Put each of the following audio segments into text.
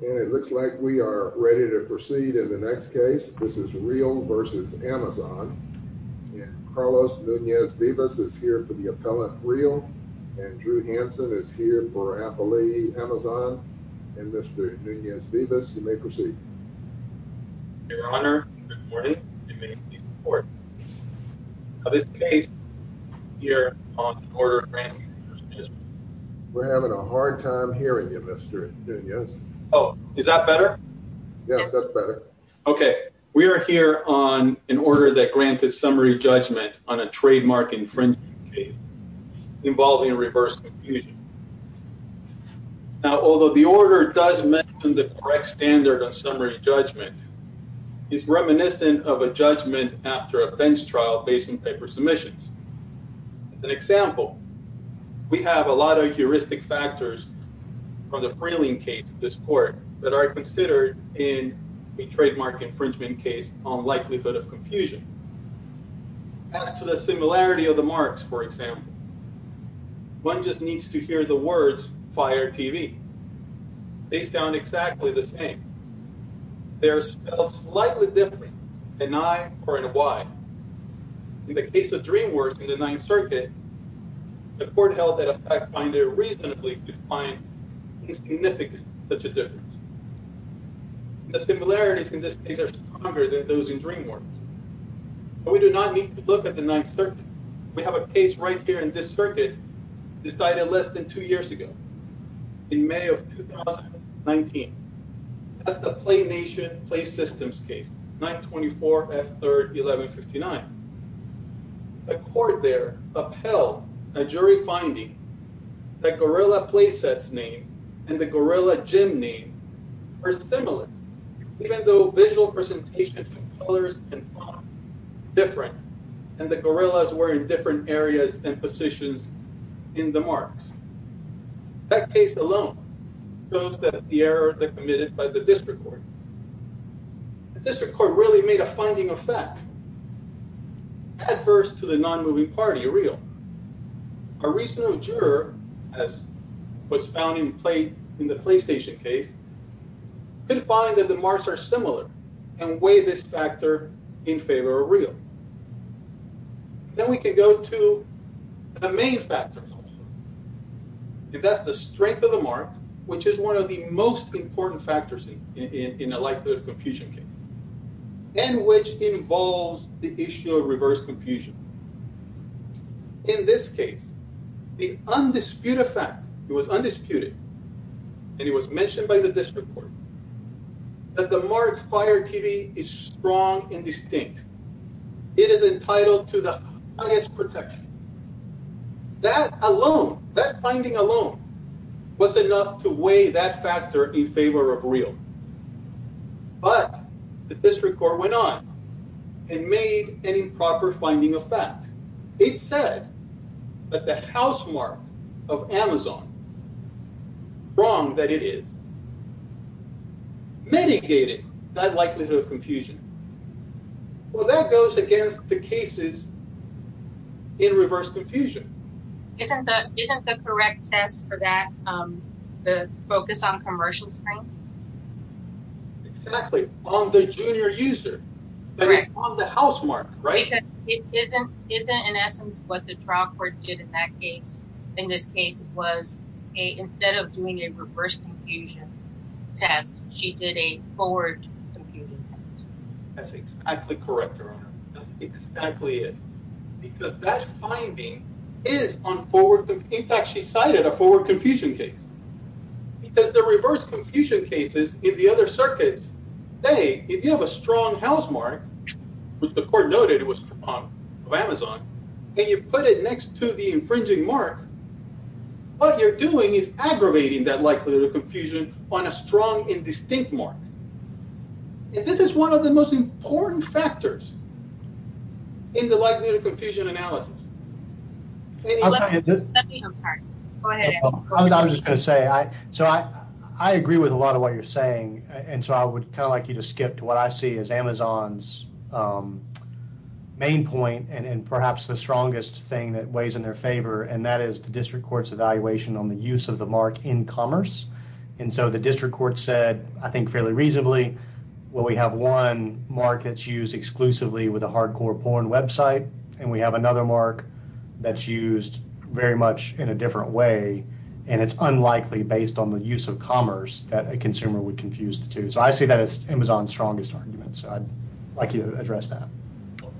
And it looks like we are ready to proceed in the next case. This is Rheal v. Amazon. Carlos Nunez-Vivas is here for the appellant, Rheal, and Drew Hanson is here for appellee, Amazon. And Mr. Nunez-Vivas, you may proceed. Your Honor, good morning. You may proceed to the court. Now, this case is here on an order granting infringement. We're having a hard time hearing you, Mr. Nunez. Oh, is that better? Yes, that's better. Okay. We are here on an order that granted summary judgment on a trademark infringement case involving a reverse confusion. Now, although the order does mention the correct standard of summary judgment, it's reminiscent of a judgment after a bench trial based on paper submissions. As an example, we have a lot of heuristic factors on the Freeling case in this court that are considered in a trademark infringement case on likelihood of confusion. As to the similarity of the marks, for example, one just needs to hear the words, fire TV. They sound exactly the same. They're slightly different than I or in a Y. In the case of DreamWorks in the Ninth Circuit, the court held that a fact finder reasonably could find insignificant such a difference. The similarities in this case are stronger than those in DreamWorks. But we do not need to look at the Ninth Circuit. We have a case right here in this circuit decided less than two years ago, in May of 2019. That's the PlayNation PlaySystems case, 924F3-1159. The court there upheld a jury finding that Gorilla Playset's name and the Gorilla Gym name are similar, even though visual presentation colors and font are different, and the gorillas were in different areas and positions in the marks. That case alone shows that the errors are committed by the district court. The district court really made a finding of fact adverse to the non-moving party, a real. A reasonable juror, as was found in the PlayStation case, could find that the marks are similar and weigh this factor in favor of real. Then we can go to the main factor. That's the strength of the mark, which is one of the most important factors in a likelihood of confusion case, and which involves the issue of reverse confusion. In this case, the undisputed fact, it was undisputed, and it was mentioned by the district court, that the marked Fire TV is strong and distinct. It is entitled to the highest protection. That alone, that finding alone, was enough to weigh that factor in favor of real. But the district court went on and made an improper finding of fact. It said that the house mark of Amazon, wrong that it is, mitigated that likelihood of confusion. Well, that goes against the cases in reverse confusion. Isn't that isn't the correct test for that? The focus on commercial screen. It's actually on the junior user on the house mark, right? It isn't isn't in essence what the trial court did in that case. In this case, it was a instead of doing a reverse confusion test. She did a forward. That's exactly correct. That's exactly it. Because that finding is on forward. In fact, she cited a forward confusion case. Because the reverse confusion cases in the other circuits, they, if you have a strong housemark, which the court noted it was Amazon, and you put it next to the infringing mark. What you're doing is aggravating that likelihood of confusion on a strong and distinct mark. This is one of the most important factors in the likelihood of confusion analysis. I was just going to say I so I I agree with a lot of what you're saying. And so I would kind of like you to skip to what I see is Amazon's main point and perhaps the strongest thing that weighs in their favor. And that is the district court's evaluation on the use of the mark in commerce. And so the district court said, I think, fairly reasonably. Well, we have one mark that's used exclusively with a hardcore porn website. And we have another mark that's used very much in a different way. And it's unlikely, based on the use of commerce, that a consumer would confuse the two. So I see that as Amazon's strongest argument. So I'd like you to address that.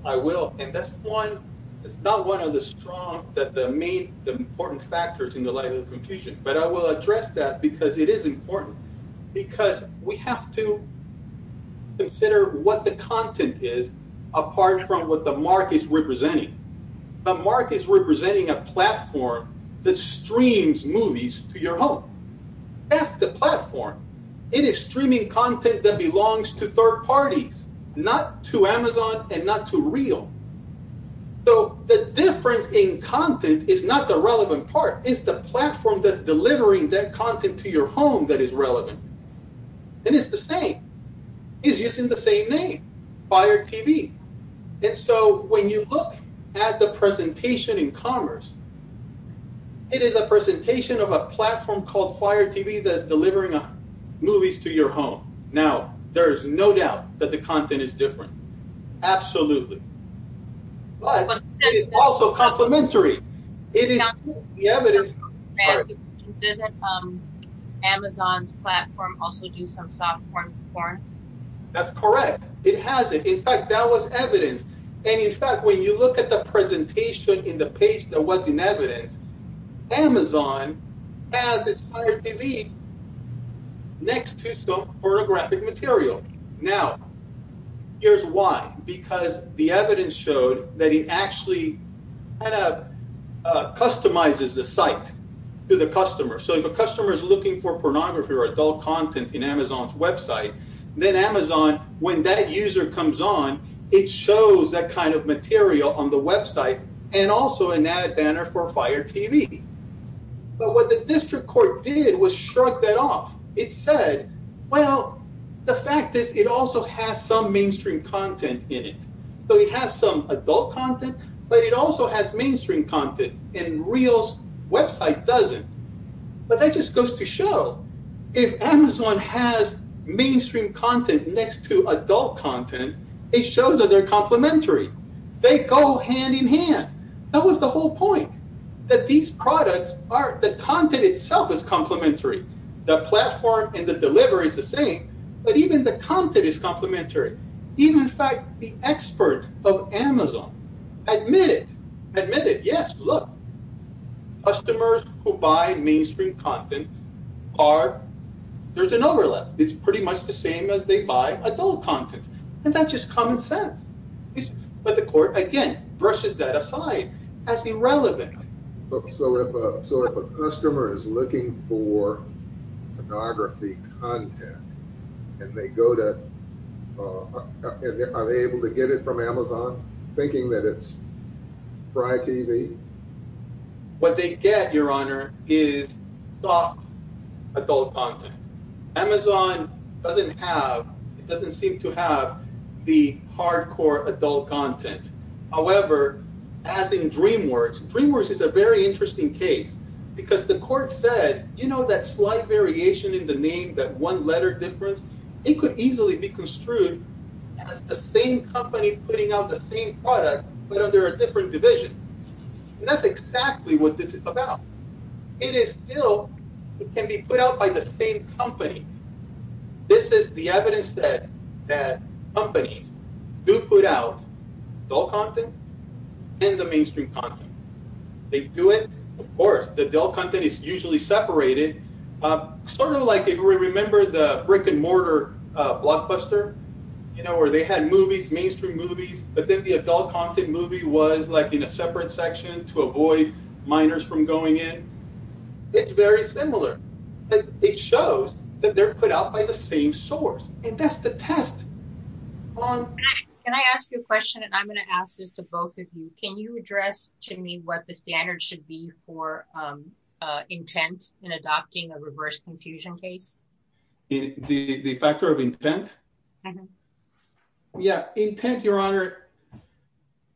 I will. And that's one. It's not one of the strong that the main important factors in the likelihood of confusion. But I will address that because it is important because we have to consider what the content is apart from what the mark is representing. The mark is representing a platform that streams movies to your home. Ask the platform. It is streaming content that belongs to third parties, not to Amazon and not to Reel. So the difference in content is not the relevant part. It's the platform that's delivering that content to your home that is relevant. And it's the same. It's using the same name, Fire TV. And so when you look at the presentation in commerce, it is a presentation of a platform called Fire TV that's delivering movies to your home. Now, there is no doubt that the content is different. Absolutely. But it is also complimentary. It is the evidence. Doesn't Amazon's platform also do some software for it? That's correct. It has it. In fact, that was evidence. And, in fact, when you look at the presentation in the page that was in evidence, Amazon has its Fire TV next to some photographic material. Now, here's why. Because the evidence showed that it actually kind of customizes the site to the customer. So if a customer is looking for pornography or adult content in Amazon's website, then Amazon, when that user comes on, it shows that kind of material on the website and also an ad banner for Fire TV. But what the district court did was shrug that off. It said, well, the fact is it also has some mainstream content in it. So it has some adult content, but it also has mainstream content, and Reel's website doesn't. But that just goes to show if Amazon has mainstream content next to adult content, it shows that they're complimentary. They go hand in hand. That was the whole point, that these products are the content itself is complimentary. The platform and the delivery is the same, but even the content is complimentary. Even, in fact, the expert of Amazon admitted, admitted, yes, look, customers who buy mainstream content are there's an overlap. It's pretty much the same as they buy adult content. And that's just common sense. But the court, again, brushes that aside as irrelevant. So if a customer is looking for pornography content and they go to, are they able to get it from Amazon, thinking that it's Fry TV? What they get, Your Honor, is soft adult content. Amazon doesn't have, it doesn't seem to have the hardcore adult content. However, as in DreamWorks, DreamWorks is a very interesting case because the court said, you know, that slight variation in the name, that one letter difference? It could easily be construed as the same company putting out the same product, but under a different division. And that's exactly what this is about. It is still, it can be put out by the same company. This is the evidence that companies do put out adult content and the mainstream content. They do it, of course, the adult content is usually separated. Sort of like if we remember the brick and mortar blockbuster, you know, where they had movies, mainstream movies, but then the adult content movie was like in a separate section to avoid minors from going in. It's very similar. It shows that they're put out by the same source. And that's the test. Can I ask you a question? And I'm going to ask this to both of you. Can you address to me what the standard should be for intent in adopting a reverse confusion case? The factor of intent? Yeah, intent, Your Honor.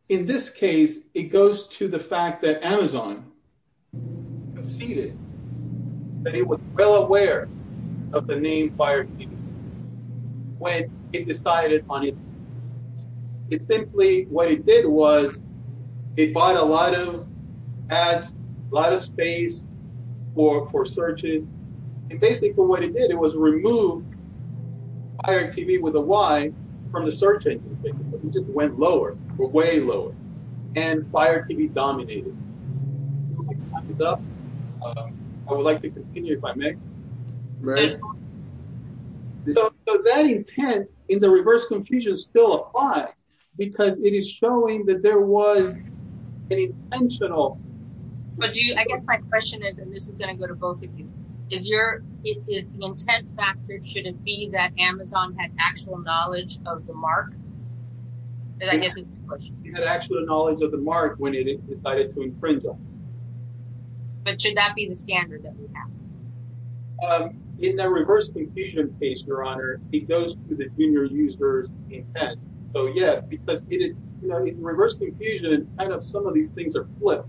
In this case, it goes to the fact that Amazon conceded. That it was well aware of the name Fire TV when it decided on it. It simply, what it did was it bought a lot of ads, a lot of space for searches. And basically what it did, it was removed Fire TV with a Y from the search engine. It just went lower, way lower. And Fire TV dominated. Time is up. I would like to continue if I may. Right. So that intent in the reverse confusion still applies because it is showing that there was an intentional. But do you, I guess my question is, and this is going to go to both of you, is your, is the intent factor, should it be that Amazon had actual knowledge of the mark? You had actual knowledge of the mark when it decided to infringe on it. But should that be the standard that we have? In the reverse confusion case, Your Honor, it goes to the junior user's intent. So, yeah, because it is, you know, it's reverse confusion and kind of some of these things are flipped.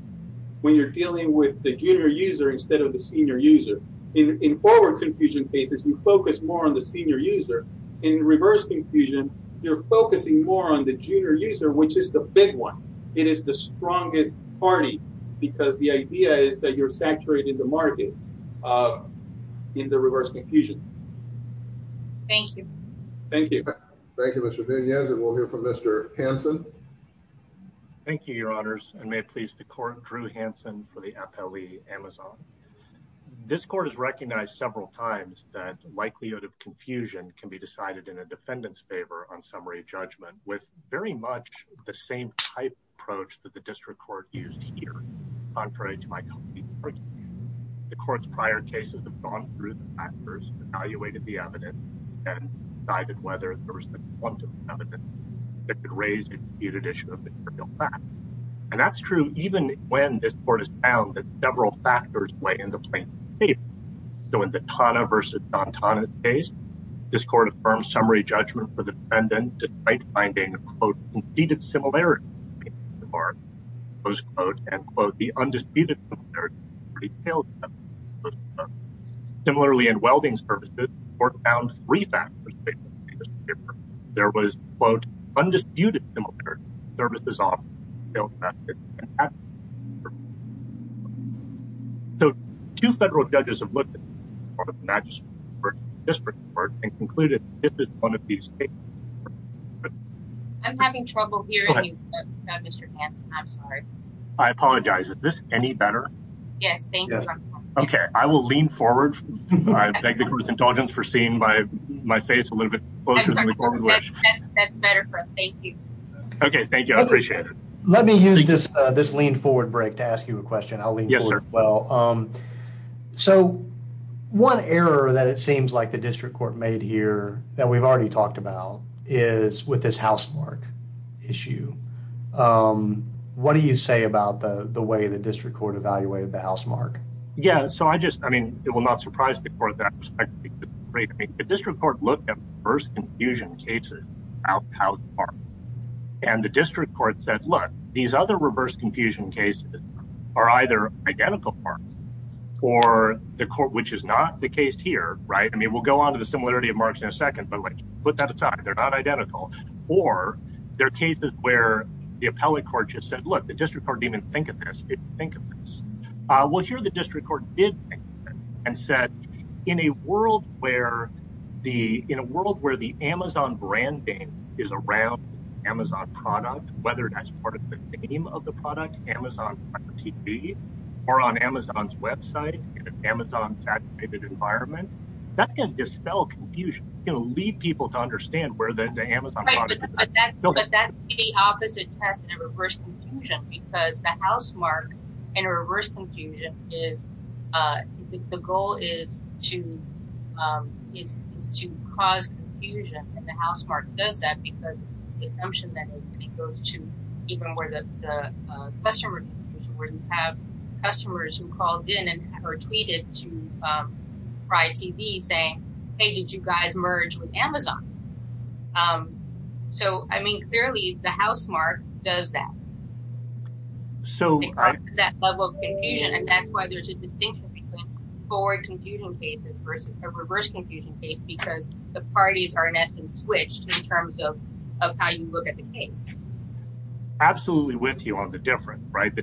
When you're dealing with the junior user instead of the senior user. In forward confusion cases, you focus more on the senior user. In reverse confusion, you're focusing more on the junior user, which is the big one. It is the strongest party because the idea is that you're saturating the market in the reverse confusion. Thank you. Thank you. Thank you, Mr. Yes. And we'll hear from Mr. Hanson. Thank you, Your Honors. And may it please the court. Drew Hanson for the appellee Amazon. This court has recognized several times that likelihood of confusion can be decided in a defendant's favor on summary judgment with very much the same type of approach that the district court used here. Contrary to my. The court's prior cases have gone through the factors, evaluated the evidence, and decided whether there was. It could raise a disputed issue of material facts. And that's true, even when this court has found that several factors play in the plane. So, in the Tana versus Don Tana case, this court affirmed summary judgment for the defendant despite finding, quote, indeed, it's similar. And, quote, the undisputed. Similarly, and welding services were found three factors. There was, quote, undisputed services. So, two federal judges have looked at this report and concluded this is one of these. I'm having trouble hearing you, Mr. I'm sorry. I apologize. Is this any better? Yes. Okay. I will lean forward. Thank you for seeing my face a little bit. That's better for us. Thank you. Okay. Thank you. I appreciate it. Let me use this lean forward break to ask you a question. I'll lean forward as well. Yes, sir. So, one error that it seems like the district court made here that we've already talked about is with this housemark issue. What do you say about the way the district court evaluated the housemark? Yeah. So, I just, I mean, it will not surprise the court. The district court looked at reverse confusion cases without housemarks. And the district court said, look, these other reverse confusion cases are either identical marks or the court, which is not the case here, right? I mean, we'll go on to the similarity of marks in a second, but, like, put that aside. They're not identical. Or there are cases where the appellate court just said, look, the district court didn't even think of this. They didn't think of this. Well, here the district court did think of it and said, in a world where the Amazon branding is around Amazon product, whether that's part of the name of the product, Amazon TV, or on Amazon's website, in an Amazon saturated environment, that's going to dispel confusion. It's going to lead people to understand where the Amazon product is. But that's the opposite test in a reverse confusion, because the housemark in a reverse confusion is, the goal is to cause confusion. And the housemark does that because the assumption that it goes to even where the customer, where you have customers who called in or tweeted to Fry TV saying, hey, did you guys merge with Amazon? So, I mean, clearly the housemark does that. So that level of confusion, and that's why there's a distinction between forward confusion cases versus a reverse confusion case, because the parties are in essence switched in terms of how you look at the case. Absolutely with you on the difference, right?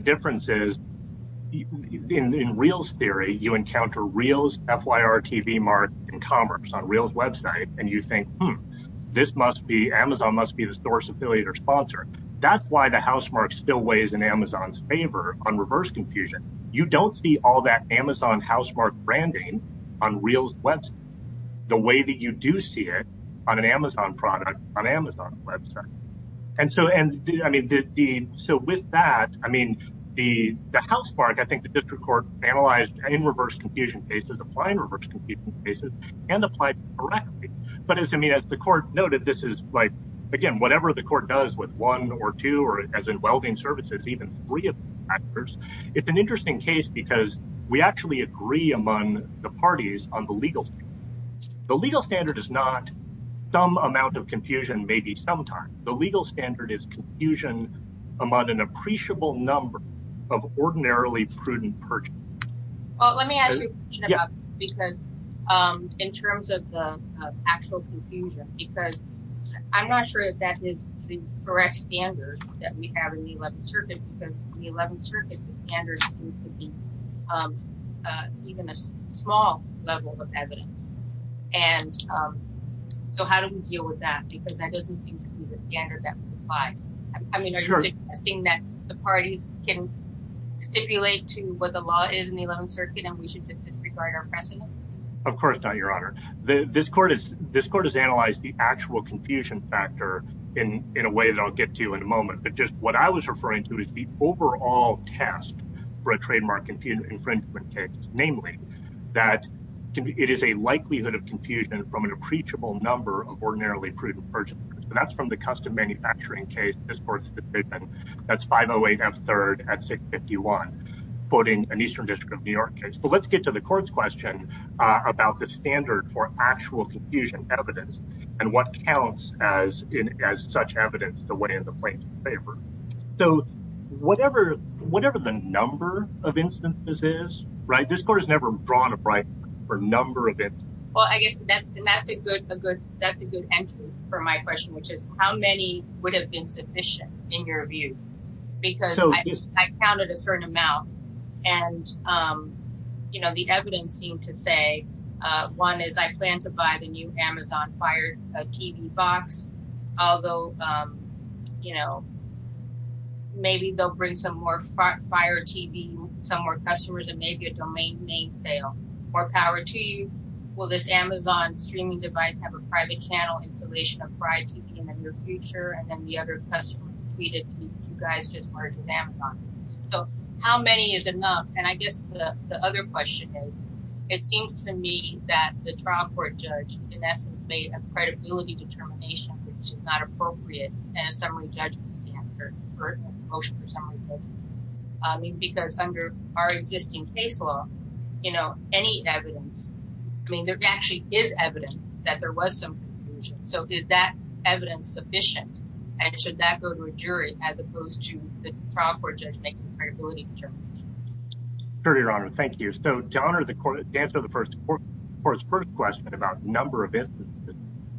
In reels theory, you encounter reels, FYR TV mark in commerce on reels website, and you think, hmm, this must be Amazon must be the source affiliate or sponsor. That's why the housemark still weighs in Amazon's favor on reverse confusion. You don't see all that Amazon housemark branding on reels website, the way that you do see it on an Amazon product on Amazon website. And so, and I mean, so with that, I mean, the housemark, I think the district court analyzed in reverse confusion cases, applying reverse confusion cases and applied correctly. But as I mean, as the court noted, this is like, again, whatever the court does with one or two or as in welding services, even three of actors. It's an interesting case because we actually agree among the parties on the legal. The legal standard is not some amount of confusion, maybe sometimes the legal standard is confusion among an appreciable number of ordinarily prudent purchase. Because in terms of the actual confusion, because I'm not sure that that is the correct standard that we have in the 11th Circuit, because the 11th Circuit standard seems to be even a small level of evidence. And so how do we deal with that? I mean, are you suggesting that the parties can stipulate to what the law is in the 11th Circuit and we should disregard our precedent? Of course not, Your Honor. This court has analyzed the actual confusion factor in a way that I'll get to in a moment. But just what I was referring to is the overall test for a trademark infringement case, namely that it is a likelihood of confusion from an appreciable number of ordinarily prudent purchase. That's from the custom manufacturing case. That's 508F3rd at 651, quoting an Eastern District of New York case. But let's get to the court's question about the standard for actual confusion evidence and what counts as such evidence to weigh in the plaintiff's favor. So whatever the number of instances is, this court has never drawn a bracket for number of instances. Well, I guess that's a good entry for my question, which is how many would have been sufficient in your view? Because I counted a certain amount and, you know, the evidence seemed to say one is I plan to buy the new Amazon Fire TV box. Although, you know, maybe they'll bring some more Fire TV, some more customers and maybe a domain name sale or power to you. Will this Amazon streaming device have a private channel installation of Fire TV in the near future? And then the other customer tweeted, you guys just merged with Amazon. So how many is enough? And I guess the other question is, it seems to me that the trial court judge in essence made a credibility determination, which is not appropriate. I mean, because under our existing case law, you know, any evidence, I mean, there actually is evidence that there was some confusion. So is that evidence sufficient? And should that go to a jury as opposed to the trial court judge making credibility determination? Your Honor, thank you. So to answer the first question about number of instances,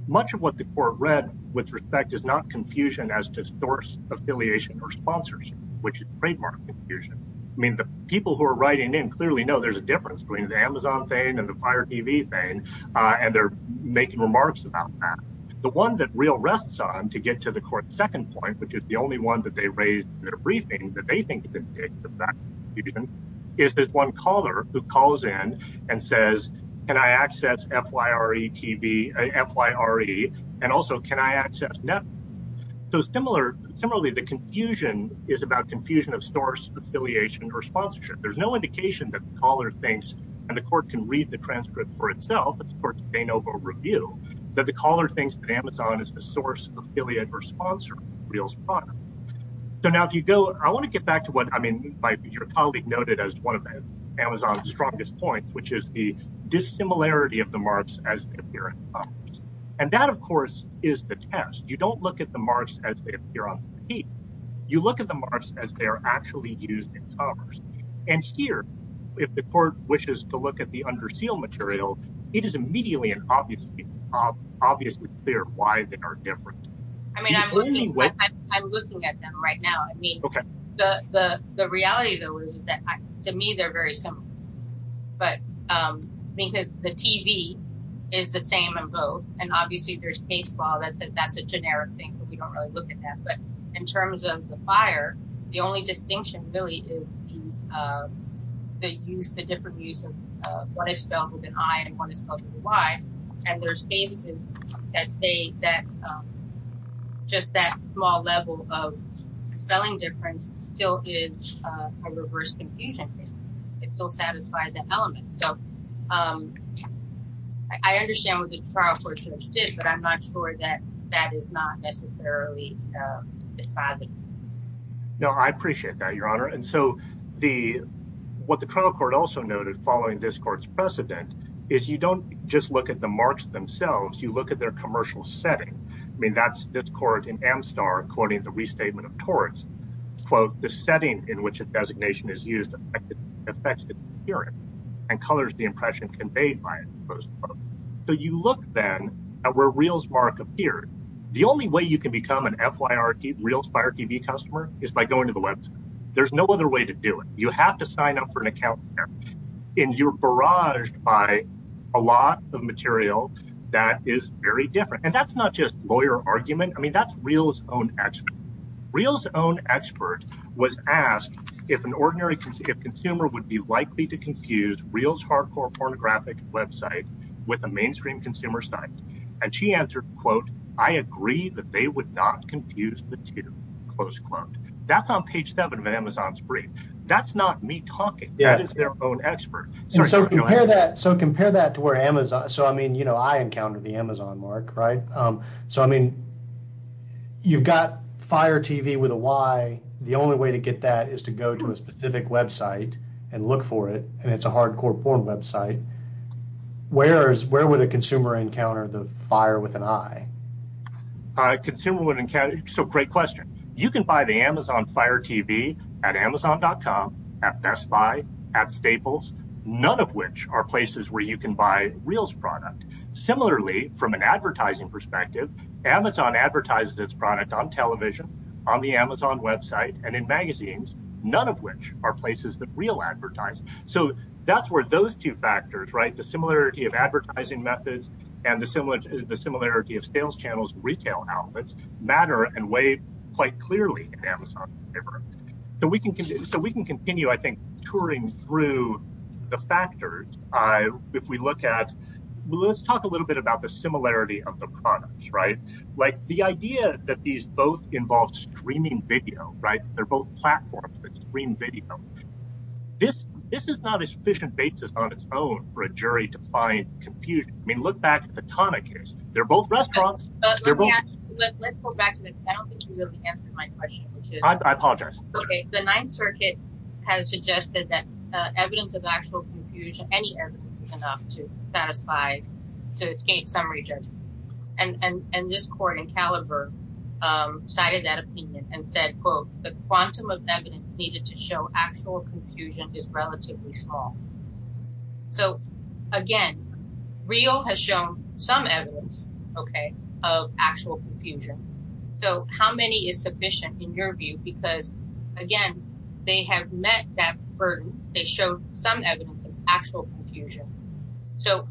much of what the court read with respect is not confusion as to source affiliation or sponsorship, which is trademark confusion. I mean, the people who are writing in clearly know there's a difference between the Amazon thing and the Fire TV thing, and they're making remarks about that. The one that real rests on to get to the court's second point, which is the only one that they raised in their briefing that they think is indicative of that confusion, is this one caller who calls in and says, can I access FYRE TV, FYRE, and also can I access Netflix? So similarly, the confusion is about confusion of source affiliation or sponsorship. There's no indication that the caller thinks, and the court can read the transcript for itself, it's a court's de novo review, that the caller thinks that Amazon is the source, affiliate, or sponsor of Reel's product. So now if you go, I want to get back to what, I mean, your colleague noted as one of Amazon's strongest points, which is the dissimilarity of the marks as they appear in commerce. And that, of course, is the test. You don't look at the marks as they appear on the TV. You look at the marks as they are actually used in commerce. And here, if the court wishes to look at the under seal material, it is immediately and obviously clear why they are different. I mean, I'm looking at them right now. I mean, the reality, though, is that, to me, they're very similar. But because the TV is the same in both, and obviously there's case law, that's a generic thing, so we don't really look at that. But in terms of the fire, the only distinction really is the use, the different use of what is spelled with an I and what is spelled with a Y. And there's cases that say that just that small level of spelling difference still is a reverse confusion. It still satisfies that element. So I understand what the trial court judge did, but I'm not sure that that is not necessarily dispositive. No, I appreciate that, Your Honor. And so what the trial court also noted following this court's precedent is you don't just look at the marks themselves. You look at their commercial setting. I mean, that's this court in Amstar, quoting the restatement of torts, quote, the setting in which a designation is used affects the appearance and colors the impression conveyed by it. So you look then at where Reels Mark appeared. The only way you can become an FYRT Reels Fire TV customer is by going to the website. There's no other way to do it. You have to sign up for an account in your barrage by a lot of material that is very different. And that's not just lawyer argument. I mean, that's Reels own expert. Reels own expert was asked if an ordinary consumer would be likely to confuse Reels hardcore pornographic website with a mainstream consumer site. And she answered, quote, I agree that they would not confuse the two, close quote. That's on page seven of Amazon's brief. That's not me talking. That is their own expert. So compare that. So compare that to where Amazon. So, I mean, you know, I encounter the Amazon mark. Right. So, I mean, you've got fire TV with a why. The only way to get that is to go to a specific website and look for it. And it's a hardcore porn website. Where is where would a consumer encounter the fire with an eye? Consumer would encounter. So great question. You can buy the Amazon fire TV at Amazon dot com at Best Buy at Staples, none of which are places where you can buy Reels product. Similarly, from an advertising perspective, Amazon advertises its product on television, on the Amazon website and in magazines, none of which are places that Reel advertise. So that's where those two factors, right? The similarity of advertising methods and the similar the similarity of sales channels, retail outlets matter and way quite clearly. So we can so we can continue, I think, touring through the factors. If we look at let's talk a little bit about the similarity of the product. Right. Like the idea that these both involve streaming video. Right. They're both platforms that stream video. This this is not a sufficient basis on its own for a jury to find confusion. I mean, look back at the tonic is they're both restaurants. They're both. Let's go back to that. I don't think you really answered my question. I apologize. The Ninth Circuit has suggested that evidence of actual confusion, any evidence enough to satisfy to escape summary judgment. And this court in caliber cited that opinion and said, quote, the quantum of evidence needed to show actual confusion is relatively small. So, again, Reel has shown some evidence of actual confusion. So how many is sufficient in your view? Because, again, they have met that burden. They show some evidence of actual confusion. So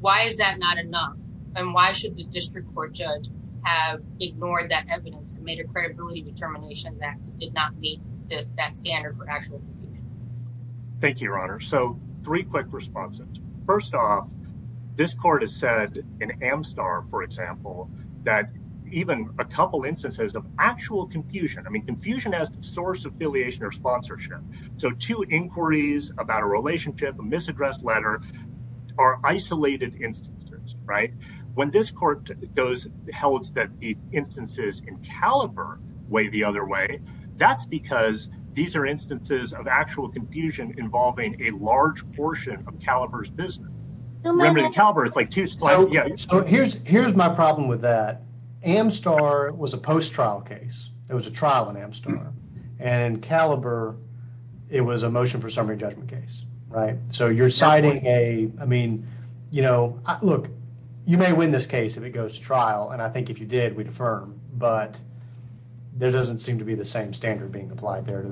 why is that not enough? And why should the district court judge have ignored that evidence and made a credibility determination that did not meet that standard for actual? Thank you, Your Honor. So three quick responses. First off, this court has said in Amstar, for example, that even a couple instances of actual confusion. I mean, confusion has source affiliation or sponsorship. So two inquiries about a relationship, a misaddressed letter are isolated instances. Right. When this court goes, it holds that the instances in caliber way the other way. That's because these are instances of actual confusion involving a large portion of caliber's business. Caliber is like two. So here's here's my problem with that. Amstar was a post trial case. There was a trial in Amstar and caliber. It was a motion for summary judgment case. Right. So you're citing a. I mean, you know, look, you may win this case if it goes to trial. And I think if you did, we'd affirm. But there doesn't seem to be the same standard being applied there.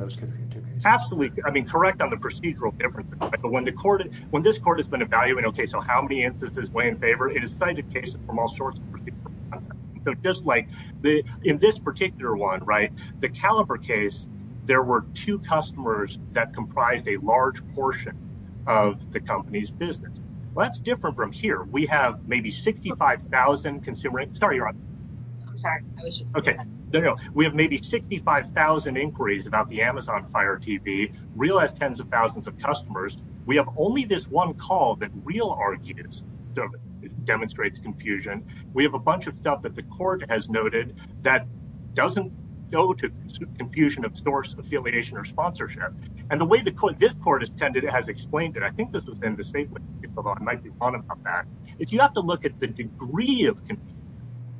Absolutely. I mean, correct on the procedural difference. But when the court when this court has been evaluating, OK, so how many instances weigh in favor? It is cited cases from all sorts. So just like in this particular one. Right. The caliber case, there were two customers that comprised a large portion of the company's business. Well, that's different from here. We have maybe sixty five thousand consumer. I'm sorry. OK, no, no. We have maybe sixty five thousand inquiries about the Amazon Fire TV. Realize tens of thousands of customers. We have only this one call that real argues demonstrates confusion. We have a bunch of stuff that the court has noted that doesn't go to confusion of source affiliation or sponsorship. And the way the court, this court has tended, it has explained that I think this was in the statement. It's you have to look at the degree of.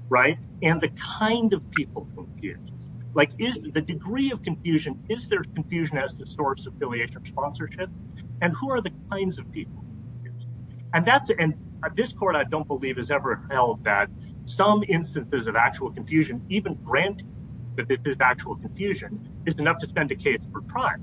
Right. And the kind of people confused. Like is the degree of confusion. Is there confusion as the source of affiliation or sponsorship? And who are the kinds of people? And that's in this court. I don't believe it's ever held that some instances of actual confusion, even grant that this is actual confusion. It's enough to send a case for trial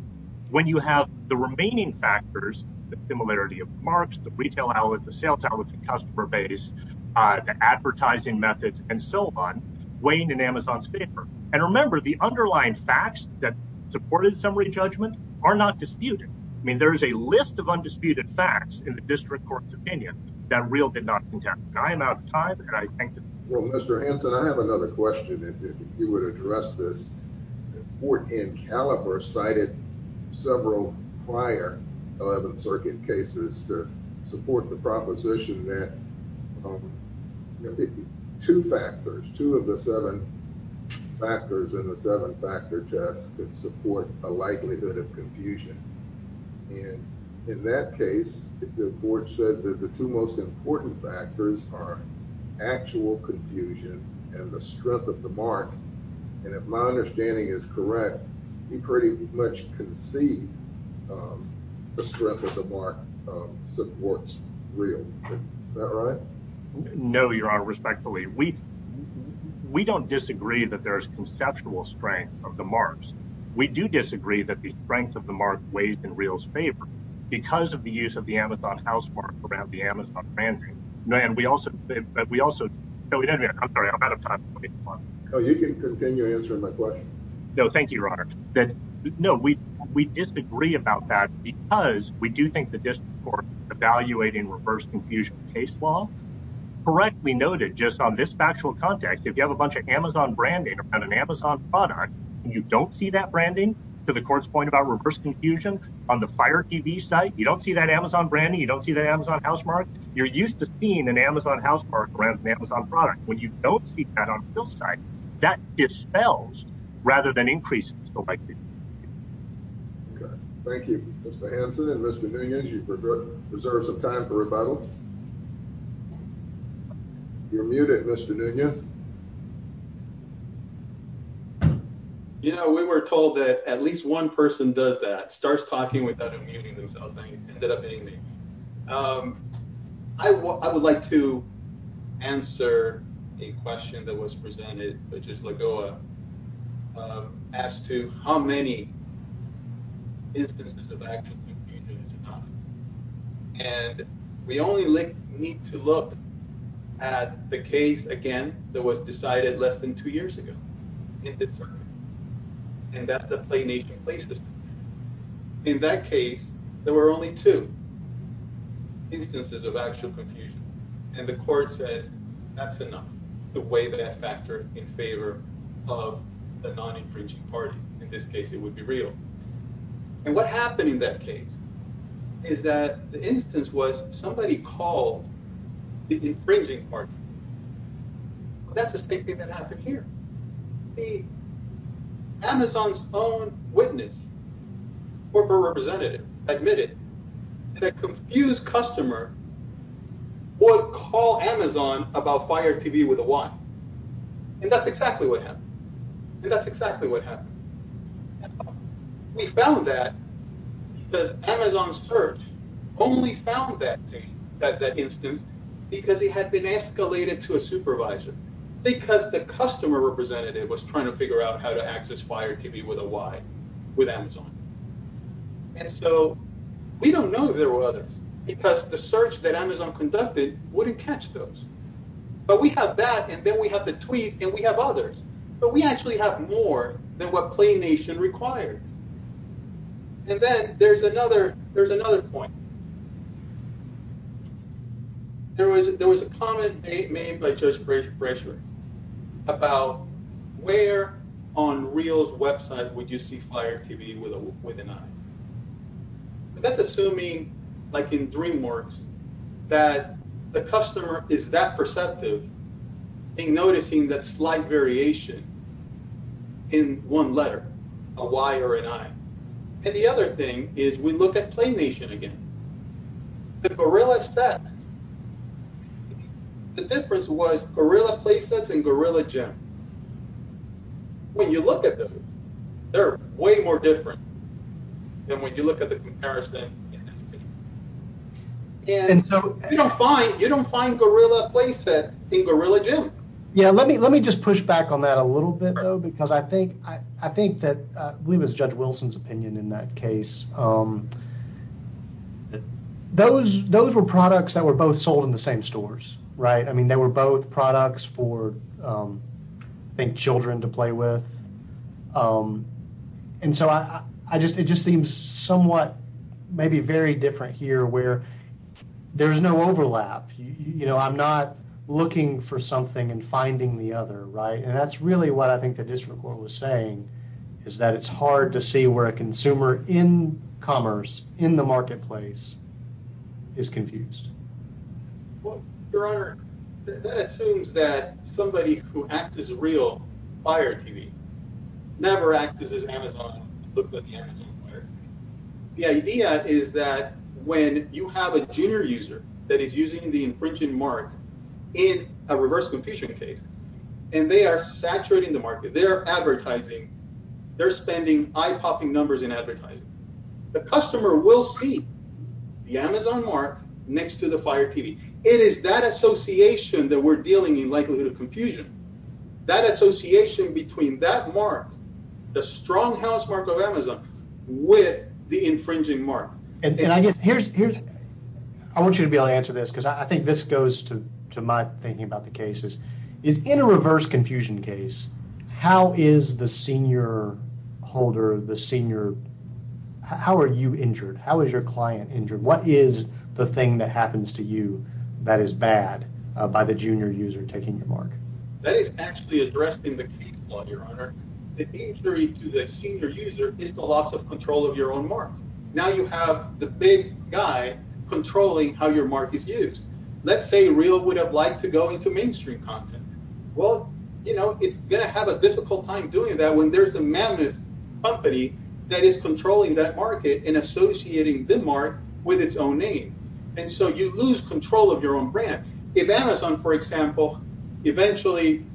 when you have the remaining factors, the similarity of marks, the retail outlets, the sales outlets, the customer base, the advertising methods and so on weighing in Amazon's paper. And remember, the underlying facts that supported summary judgment are not disputed. I mean, there is a list of undisputed facts in the district court's opinion that real did not. I think Mr. Hansen, I have another question. If you would address this in caliber cited several prior 11th Circuit cases to support the proposition that two factors, two of the seven factors in the seven factor test that support a likelihood of confusion. And in that case, the court said that the two most important factors are actual confusion and the strength of the mark. And if my understanding is correct, you pretty much can see the strength of the bar supports real. All right. No, Your Honor. Respectfully, we we don't disagree that there is conceptual strength of the marks. We do disagree that the strength of the mark weighs in real favor because of the use of the Amazon house for the Amazon brand. And we also we also know we don't. I'm sorry. I'm out of time. Oh, you can continue answering my question. No, thank you, Your Honor. No, we we disagree about that because we do think the district court evaluating reverse confusion case law correctly noted just on this factual context. If you have a bunch of Amazon branding on an Amazon product and you don't see that branding to the court's point about reverse confusion on the fire TV site, you don't see that Amazon brand. You don't see the Amazon housemark. You're used to seeing an Amazon housemark around an Amazon product. When you don't see that on both sides that dispels rather than increase the likelihood. Thank you, Mr. Hansen and Mr. Nunez, you preserve some time for rebuttal. You're muted, Mr. Nunez. You know, we were told that at least one person does that starts talking without immunity themselves. I would like to answer a question that was presented, which is Lagoa. As to how many. And we only need to look at the case again that was decided less than two years ago. And that's the play nation play system. In that case, there were only two instances of actual confusion. And the court said that's enough the way that factor in favor of the non-infringing party. In this case, it would be real. And what happened in that case is that the instance was somebody called the infringing party. That's the same thing that happened here. The Amazon's own witness. Corporate representative admitted that confused customer would call Amazon about fire TV with a wife. And that's exactly what happened. And that's exactly what happened. We found that Amazon search only found that instance because he had been escalated to a supervisor because the customer representative was trying to figure out how to access fire TV with a wife with Amazon. And so we don't know if there were others because the search that Amazon conducted wouldn't catch those. But we have that and then we have the tweet and we have others, but we actually have more than what play nation required. And then there's another there's another point. There was there was a comment made by just great pressure about where on reels website would you see fire TV with a with an eye. That's assuming like in DreamWorks that the customer is that perceptive in noticing that slight variation in one letter, a Y or an I. And the other thing is we look at play nation again. The gorilla set. The difference was gorilla play sets and gorilla gym. When you look at them, they're way more different than when you look at the comparison. And so you don't find you don't find gorilla play set in gorilla gym. Yeah, let me let me just push back on that a little bit, though, because I think I think that we was Judge Wilson's opinion in that case. Those those were products that were both sold in the same stores. Right. I mean, they were both products for, I think, children to play with. And so I just it just seems somewhat maybe very different here where there is no overlap. You know, I'm not looking for something and finding the other. Right. And that's really what I think the district court was saying is that it's hard to see where a consumer in commerce in the marketplace is confused. Your Honor, that assumes that somebody who acts as a real buyer TV never acts as Amazon. The idea is that when you have a junior user that is using the infringing mark in a reverse confusion case and they are saturating the market, they are advertising, they're spending eye popping numbers in advertising. The customer will see the Amazon mark next to the fire TV. It is that association that we're dealing in likelihood of confusion, that association between that mark, the stronghouse mark of Amazon with the infringing mark. And I guess here's here's I want you to be able to answer this, because I think this goes to to my thinking about the cases is in a reverse confusion case. How is the senior holder, the senior? How are you injured? How is your client injured? What is the thing that happens to you that is bad by the junior user taking your mark? That is actually addressed in the case law. Your Honor, the injury to the senior user is the loss of control of your own mark. Now you have the big guy controlling how your mark is used. Let's say real would have liked to go into mainstream content. Well, you know, it's going to have a difficult time doing that when there's a mammoth company that is controlling that market and associating the mark with its own name. And so you lose control of your own brand. If Amazon, for example, eventually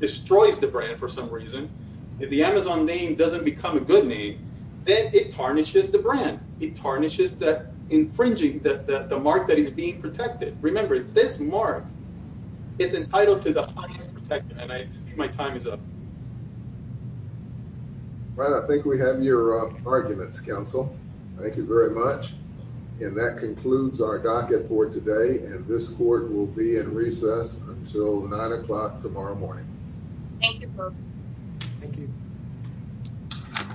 destroys the brand for some reason, the Amazon name doesn't become a good name. Then it tarnishes the brand. It tarnishes that infringing that the mark that is being protected. Remember, this mark is entitled to the highest protection. And I think my time is up. Right. I think we have your arguments, counsel. Thank you very much. And that concludes our docket for today. And this court will be in recess until nine o'clock tomorrow morning. Thank you. Thank you.